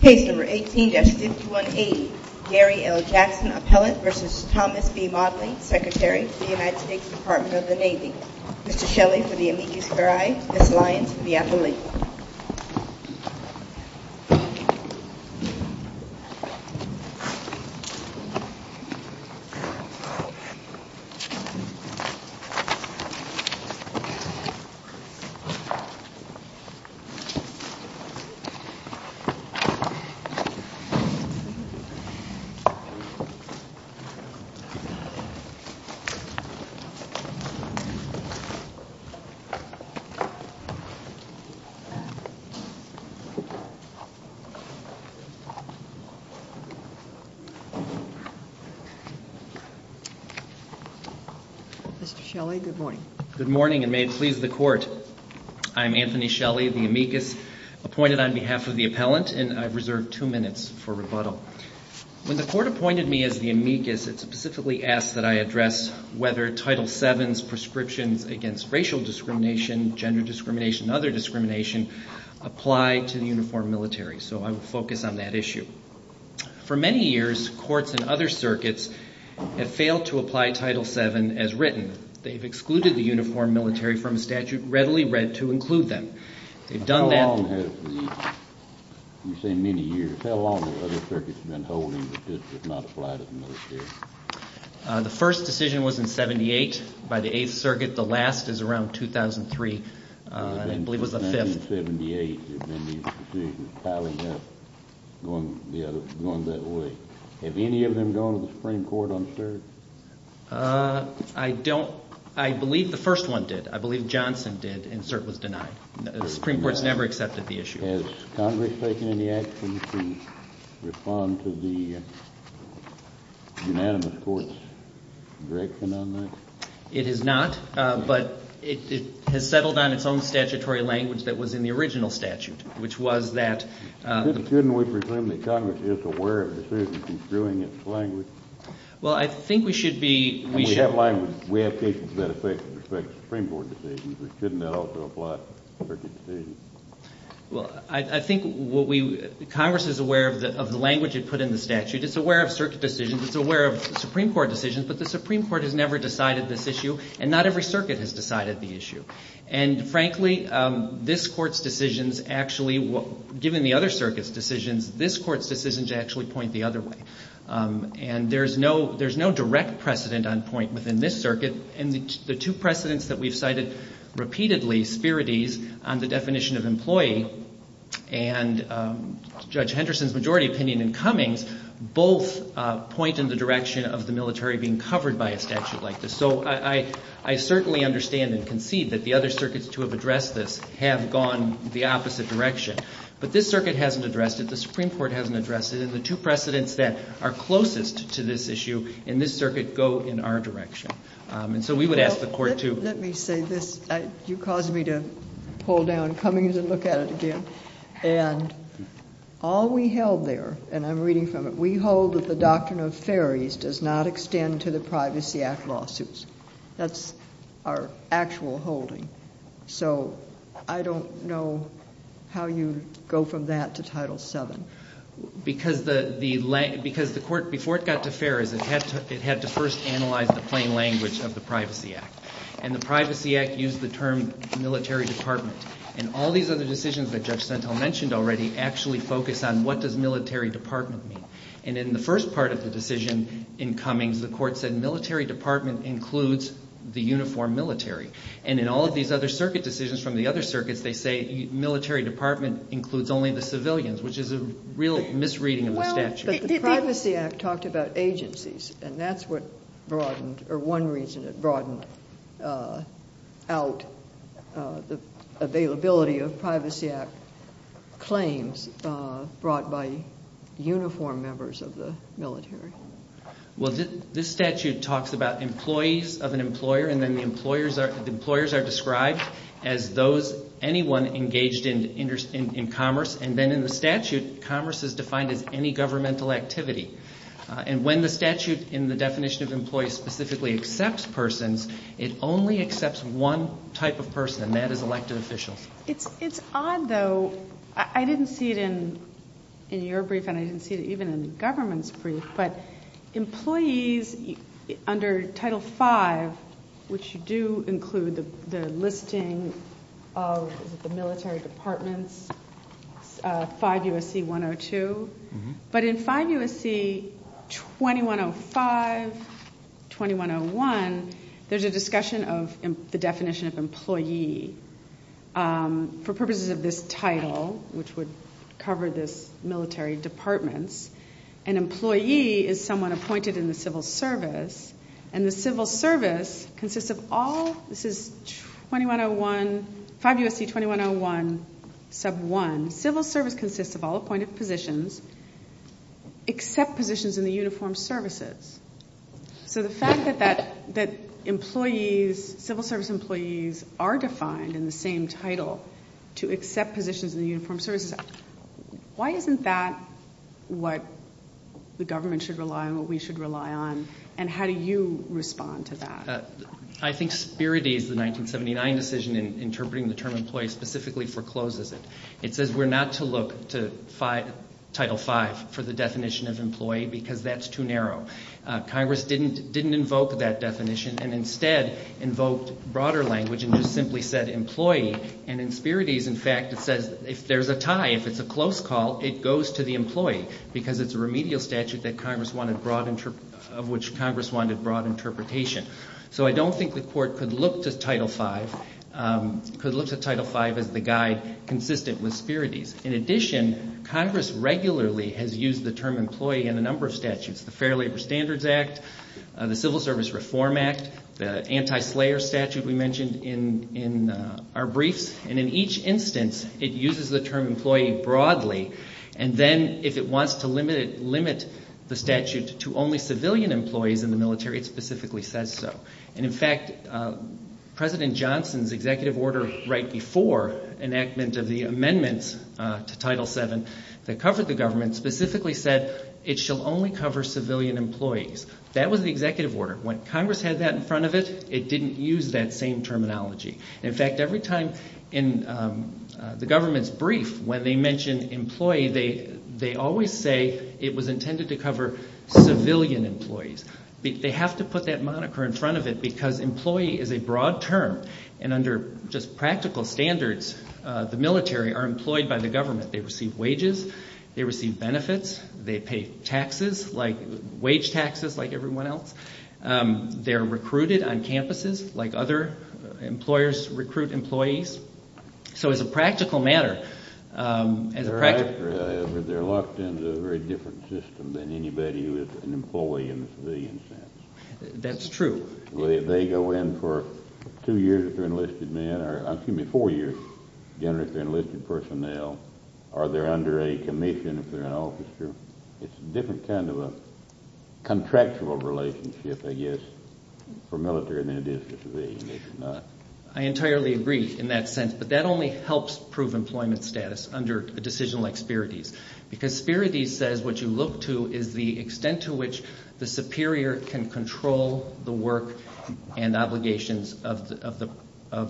Case No. 18-51A, Gary L. Jackson, Appellant, v. Thomas B. Modly, Secretary, The United States Department of the Navy Mr. Shelley for the amicus curiae, Ms. Lyons for the appellate Mr. Shelley, good morning. Good morning, and may it please the Court. I'm Anthony Shelley, the amicus appointed on behalf of the appellant, and I've reserved two minutes for rebuttal. When the Court appointed me as the amicus, it specifically asked that I address whether Title VII's prescriptions against racial discrimination, gender discrimination, and other discrimination apply to the uniformed military, so I will focus on that issue. For many years, courts in other circuits have failed to apply Title VII as written. They've excluded the uniformed military from a statute readily read to include them. How long have the other circuits been holding that this does not apply to the military? The first decision was in 1978 by the Eighth Circuit. The last is around 2003, I believe it was the fifth. In 1978, there have been these decisions piling up, going that way. Have any of them gone to the Supreme Court on cert? I believe the first one did. I believe Johnson did, and cert was denied. The Supreme Court's never accepted the issue. Has Congress taken any action to respond to the unanimous Court's direction on that? It has not, but it has settled on its own statutory language that was in the original statute, which was that... Couldn't we presume that Congress is aware of decisions in screwing its language? Well, I think we should be... We have cases that affect Supreme Court decisions. Couldn't that also apply to circuit decisions? Well, I think Congress is aware of the language it put in the statute. It's aware of circuit decisions. It's aware of Supreme Court decisions. But the Supreme Court has never decided this issue, and not every circuit has decided the issue. And frankly, this Court's decisions actually, given the other circuits' decisions, this Court's decisions actually point the other way. And there's no direct precedent on point within this circuit, and the two precedents that we've cited repeatedly, Spirides on the definition of employee and Judge Henderson's majority opinion in Cummings, both point in the direction of the military being covered by a statute like this. So I certainly understand and concede that the other circuits to have addressed this have gone the opposite direction. But this circuit hasn't addressed it. The Supreme Court hasn't addressed it. And the two precedents that are closest to this issue in this circuit go in our direction. And so we would ask the Court to... Let me say this. You caused me to pull down Cummings and look at it again. And all we held there, and I'm reading from it, we hold that the Doctrine of Ferries does not extend to the Privacy Act lawsuits. That's our actual holding. So I don't know how you go from that to Title VII. Because the Court, before it got to Ferries, it had to first analyze the plain language of the Privacy Act. And the Privacy Act used the term military department. And all these other decisions that Judge Sentel mentioned already actually focus on what does military department mean. And in the first part of the decision in Cummings, the Court said military department includes the uniform military. And in all of these other circuit decisions from the other circuits, they say military department includes only the civilians, which is a real misreading of the statute. But the Privacy Act talked about agencies, and that's what broadened, or one reason it broadened out the availability of Privacy Act claims brought by uniform members of the military. Well, this statute talks about employees of an employer, and then the employers are described as those, anyone engaged in commerce. And then in the statute, commerce is defined as any governmental activity. And when the statute in the definition of employees specifically accepts persons, it only accepts one type of person, and that is elected officials. It's odd, though. I didn't see it in your brief, and I didn't see it even in the government's brief. But employees under Title V, which do include the listing of the military departments, 5 U.S.C. 102. But in 5 U.S.C. 2105, 2101, there's a discussion of the definition of employee. For purposes of this title, which would cover this military departments, an employee is someone appointed in the civil service. And the civil service consists of all, this is 5 U.S.C. 2101, sub 1. Civil service consists of all appointed positions except positions in the uniformed services. So the fact that employees, civil service employees, are defined in the same title to accept positions in the uniformed services, why isn't that what the government should rely on, what we should rely on, and how do you respond to that? I think Spirides, the 1979 decision interpreting the term employee specifically forecloses it. It says we're not to look to Title V for the definition of employee because that's too narrow. Congress didn't invoke that definition and instead invoked broader language and just simply said employee. And in Spirides, in fact, it says if there's a tie, if it's a close call, it goes to the employee because it's a remedial statute of which Congress wanted broad interpretation. So I don't think the court could look to Title V as the guide consistent with Spirides. In addition, Congress regularly has used the term employee in a number of statutes, the Fair Labor Standards Act, the Civil Service Reform Act, the anti-slayer statute we mentioned in our briefs. And in each instance, it uses the term employee broadly. And then if it wants to limit the statute to only civilian employees in the military, it specifically says so. And in fact, President Johnson's executive order right before enactment of the amendments to Title VII that covered the government specifically said it shall only cover civilian employees. That was the executive order. When Congress had that in front of it, it didn't use that same terminology. In fact, every time in the government's brief when they mention employee, they always say it was intended to cover civilian employees. They have to put that moniker in front of it because employee is a broad term. And under just practical standards, the military are employed by the government. They receive wages. They receive benefits. They pay taxes, like wage taxes like everyone else. They're recruited on campuses like other employers recruit employees. So as a practical matter, as a practical matter. They're locked into a very different system than anybody who is an employee in the civilian sense. That's true. They go in for two years if they're enlisted men, or excuse me, four years generally if they're enlisted personnel. Or they're under a commission if they're an officer. It's a different kind of a contractual relationship, I guess, for military than it is for civilian. I entirely agree in that sense, but that only helps prove employment status under a decision like Spirides. Because Spirides says what you look to is the extent to which the superior can control the work and obligations of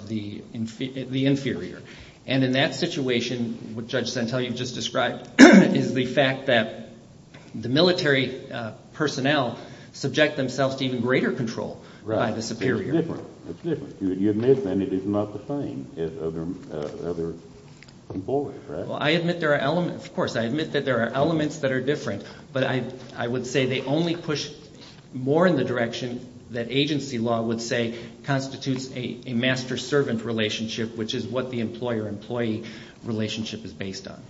the inferior. And in that situation, what Judge Santelli just described, is the fact that the military personnel subject themselves to even greater control by the superior. Right. It's different. It's different. You admit then it is not the same as other employers, right? I admit there are elements. Of course, I admit that there are elements that are different. But I would say they only push more in the direction that agency law would say constitutes a master-servant relationship, which is what the employer-employee relationship is based on.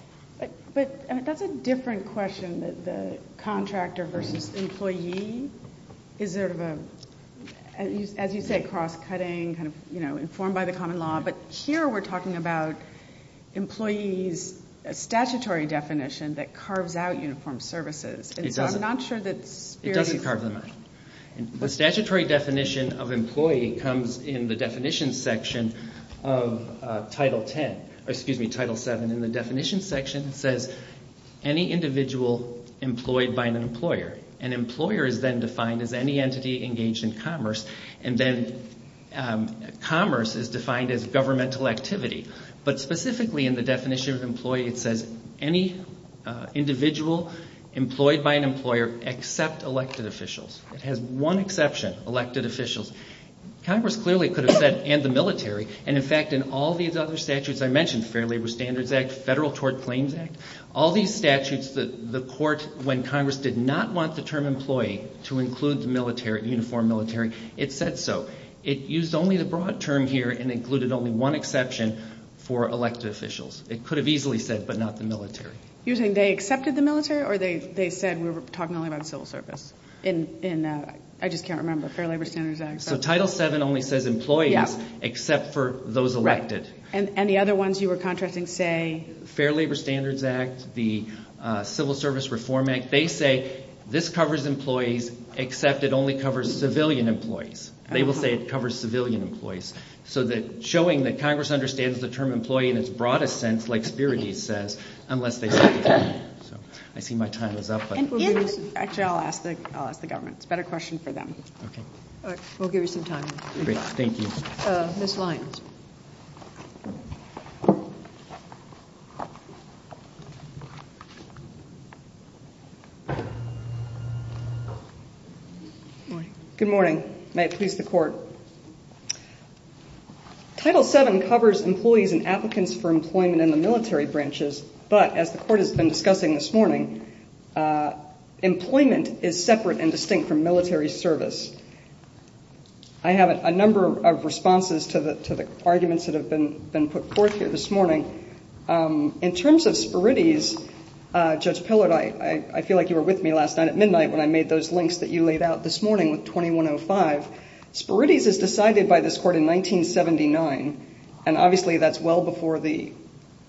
But that's a different question, that the contractor versus employee is sort of a, as you say, cross-cutting, informed by the common law. But here we're talking about employees, a statutory definition that carves out uniformed services. It doesn't. And so I'm not sure that Spirides... It doesn't carve them out. The statutory definition of employee comes in the definition section of Title VII. In the definition section, it says, any individual employed by an employer. An employer is then defined as any entity engaged in commerce. And then commerce is defined as governmental activity. But specifically in the definition of employee, it says any individual employed by an employer except elected officials. It has one exception, elected officials. Congress clearly could have said, and the military. And, in fact, in all these other statutes I mentioned, Fair Labor Standards Act, Federal Tort Claims Act, all these statutes, the court, when Congress did not want the term employee to include uniformed military, it said so. It used only the broad term here and included only one exception for elected officials. It could have easily said, but not the military. You're saying they accepted the military, or they said we were talking only about civil service? I just can't remember. Fair Labor Standards Act. So Title VII only says employees, except for those elected. And the other ones you were contrasting say... Fair Labor Standards Act, the Civil Service Reform Act. They say this covers employees, except it only covers civilian employees. They will say it covers civilian employees. So showing that Congress understands the term employee in its broadest sense, like Spirides says, unless they say it doesn't. I see my time is up. Actually, I'll ask the government. It's a better question for them. We'll give you some time. Thank you. Ms. Lyons. Good morning. May it please the Court. Title VII covers employees and applicants for employment in the military branches, but as the Court has been discussing this morning, employment is separate and distinct from military service. I have a number of responses to the arguments that have been put forth here this morning. In terms of Spirides, Judge Pillard, I feel like you were with me last night at midnight when I made those links that you laid out this morning with 2105. Spirides is decided by this Court in 1979, and obviously that's well before the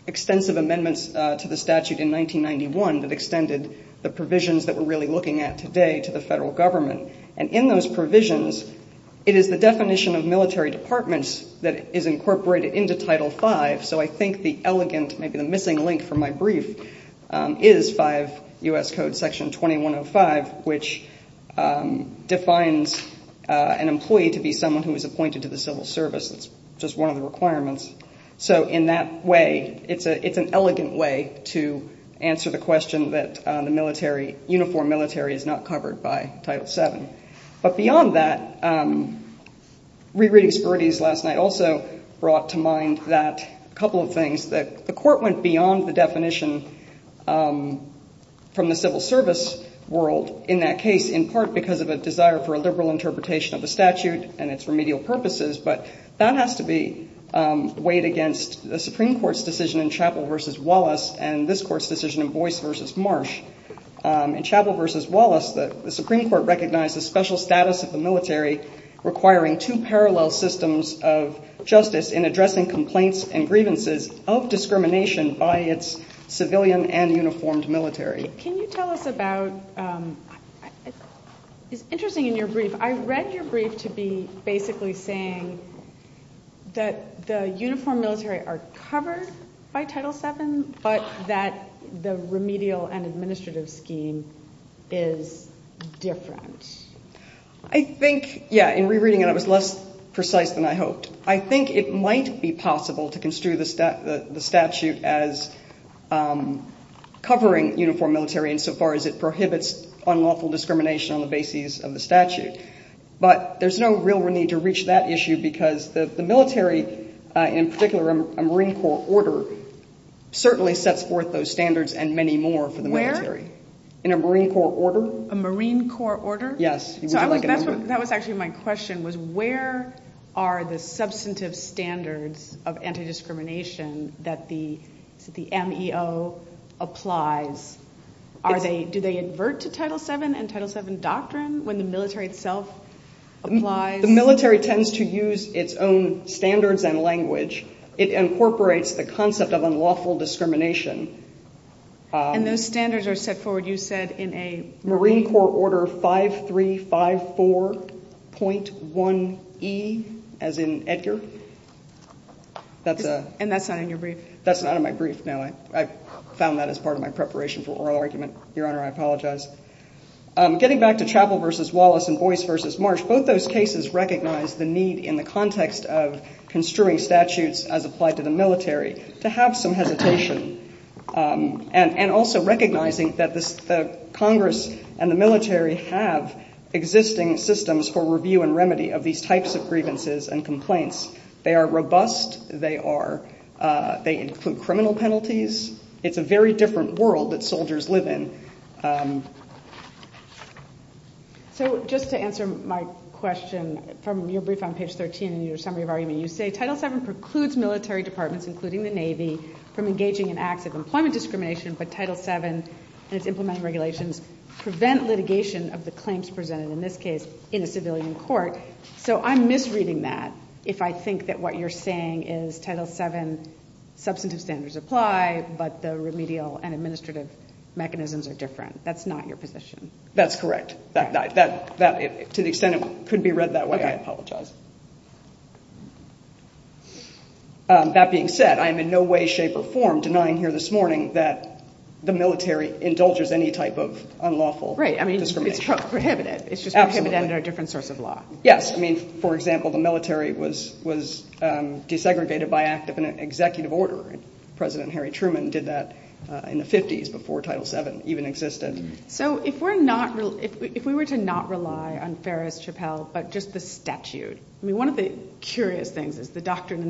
extensive amendments to the statute in 1991 that extended the provisions that we're really looking at today to the federal government. And in those provisions, it is the definition of military departments that is incorporated into Title V. So I think the elegant, maybe the missing link from my brief, is 5 U.S. Code Section 2105, which defines an employee to be someone who is appointed to the civil service. That's just one of the requirements. So in that way, it's an elegant way to answer the question that the military, uniform military is not covered by Title VII. But beyond that, re-reading Spirides last night also brought to mind that couple of things, that the Court went beyond the definition from the civil service world in that case, in part because of a desire for a liberal interpretation of the statute and its remedial purposes. But that has to be weighed against the Supreme Court's decision in Chappell v. Wallace and this Court's decision in Boyce v. Marsh. In Chappell v. Wallace, the Supreme Court recognized the special status of the military requiring two parallel systems of justice in addressing complaints and grievances of discrimination by its civilian and uniformed military. Can you tell us about, it's interesting in your brief, I read your brief to be basically saying that the uniform military are covered by Title VII, but that the remedial and administrative scheme is different. I think, yeah, in re-reading it, it was less precise than I hoped. I think it might be possible to construe the statute as covering uniform military insofar as it prohibits unlawful discrimination on the basis of the statute. But there's no real need to reach that issue because the military, in particular a Marine Corps order, certainly sets forth those standards and many more for the military. Where? In a Marine Corps order. A Marine Corps order? Yes. So that was actually my question, was where are the substantive standards of anti-discrimination that the MEO applies? Do they advert to Title VII and Title VII doctrine when the military itself applies? The military tends to use its own standards and language. It incorporates the concept of unlawful discrimination. And those standards are set forward, you said, in a brief? Marine Corps order 5354.1E, as in Edgar. And that's not in your brief? That's not in my brief, no. I found that as part of my preparation for oral argument. Your Honor, I apologize. Getting back to Chappell v. Wallace and Boyce v. Marsh, both those cases recognize the need in the context of construing statutes as applied to the military to have some hesitation and also recognizing that the Congress and the military have existing systems for review and remedy of these types of grievances and complaints. They are robust. They include criminal penalties. It's a very different world that soldiers live in. So just to answer my question from your brief on page 13 in your summary of argument, you say Title VII precludes military departments, including the Navy, from engaging in acts of employment discrimination, but Title VII and its implementing regulations prevent litigation of the claims presented, in this case, in a civilian court. So I'm misreading that if I think that what you're saying is Title VII substantive standards apply, but the remedial and administrative mechanisms are different. That's not your position. That's correct. To the extent it could be read that way, I apologize. Okay. That being said, I am in no way, shape, or form denying here this morning that the military indulges any type of unlawful discrimination. Right. I mean, it's prohibited. Absolutely. It's just prohibited under a different source of law. Yes. I mean, for example, the military was desegregated by act of an executive order, and President Harry Truman did that in the 50s before Title VII even existed. So if we were to not rely on Ferris, Chappell, but just the statute, I mean, one of the curious things is the doctrine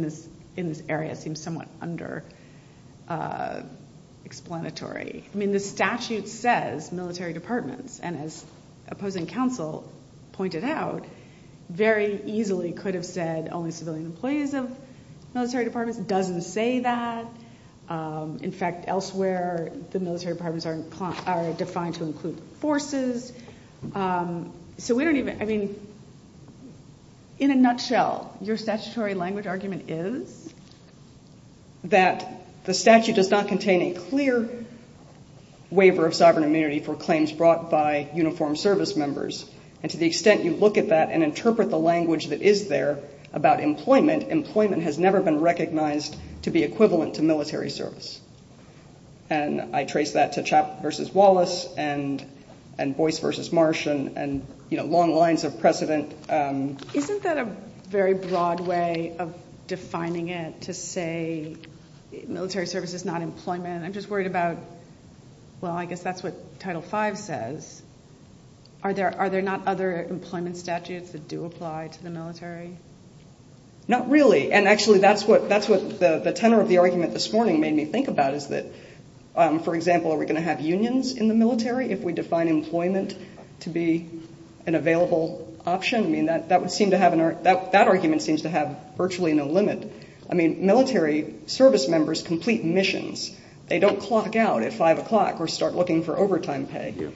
in this area seems somewhat under-explanatory. I mean, the statute says military departments, and as opposing counsel pointed out, very easily could have said only civilian employees of military departments. It doesn't say that. In fact, elsewhere the military departments are defined to include forces. So we don't even, I mean, in a nutshell, your statutory language argument is that the statute does not contain a clear waiver of sovereign immunity for claims brought by uniformed service members. And to the extent you look at that and interpret the language that is there about employment, employment has never been recognized to be equivalent to military service. And I trace that to Chappell v. Wallace and Boyce v. Marsh and, you know, long lines of precedent. Isn't that a very broad way of defining it to say military service is not employment? And I'm just worried about, well, I guess that's what Title V says. Are there not other employment statutes that do apply to the military? Not really. And actually that's what the tenor of the argument this morning made me think about is that, for example, are we going to have unions in the military if we define employment to be an available option? I mean, that argument seems to have virtually no limit. I mean, military service members complete missions. They don't clock out at 5 o'clock or start looking for overtime pay.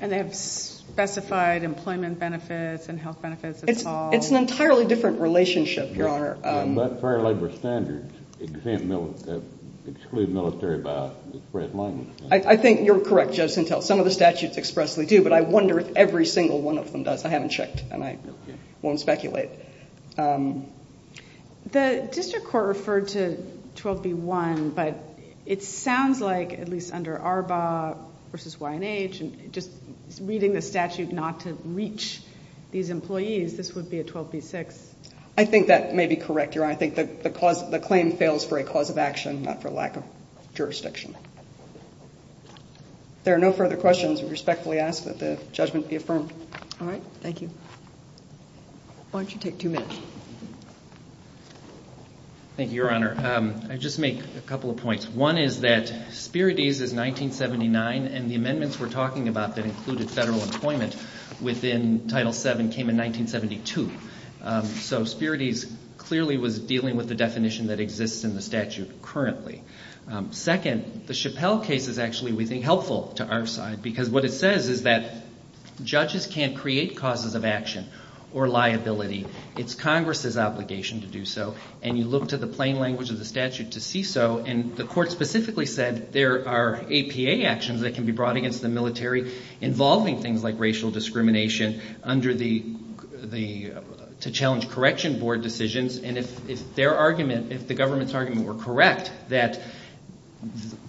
And they have specified employment benefits and health benefits and so on. It's an entirely different relationship, Your Honor. Fair labor standards exclude military by express language. I think you're correct, Judge Sintel. Some of the statutes expressly do, but I wonder if every single one of them does. I haven't checked, and I won't speculate. The district court referred to 12b-1, but it sounds like, at least under ARBA versus YNH, just reading the statute not to reach these employees, this would be a 12b-6. I think that may be correct, Your Honor. I think the claim fails for a cause of action, not for lack of jurisdiction. If there are no further questions, I respectfully ask that the judgment be affirmed. All right. Thank you. Why don't you take two minutes? Thank you, Your Honor. I'll just make a couple of points. One is that Spirides is 1979, and the amendments we're talking about that included federal employment within Title VII came in 1972. So Spirides clearly was dealing with the definition that exists in the statute currently. Second, the Chappelle case is actually, we think, helpful to our side, because what it says is that judges can't create causes of action or liability. It's Congress's obligation to do so, and you look to the plain language of the statute to see so, and the court specifically said there are APA actions that can be brought against the military involving things like racial discrimination to challenge correction board decisions, and if their argument, if the government's argument were correct, that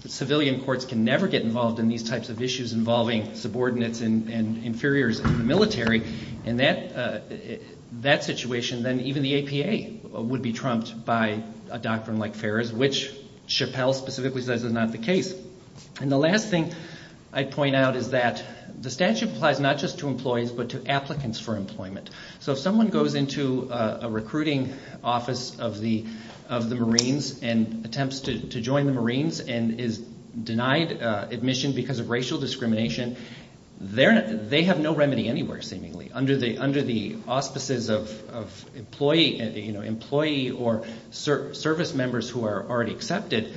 civilian courts can never get involved in these types of issues involving subordinates and inferiors in the military, in that situation, then even the APA would be trumped by a doctrine like Ferris, which Chappelle specifically says is not the case. And the last thing I'd point out is that the statute applies not just to employees, but to applicants for employment. So if someone goes into a recruiting office of the Marines and attempts to join the Marines and is denied admission because of racial discrimination, they have no remedy anywhere, seemingly. Under the auspices of employee or service members who are already accepted,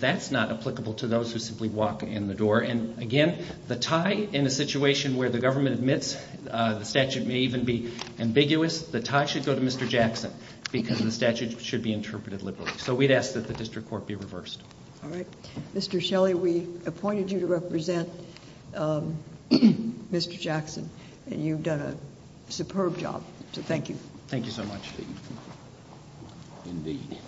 that's not applicable to those who simply walk in the door, and again, the tie in a situation where the government admits the statute may even be ambiguous, the tie should go to Mr. Jackson because the statute should be interpreted liberally. So we'd ask that the district court be reversed. All right. Mr. Shelley, we appointed you to represent Mr. Jackson, and you've done a superb job. So thank you. Thank you so much. Indeed.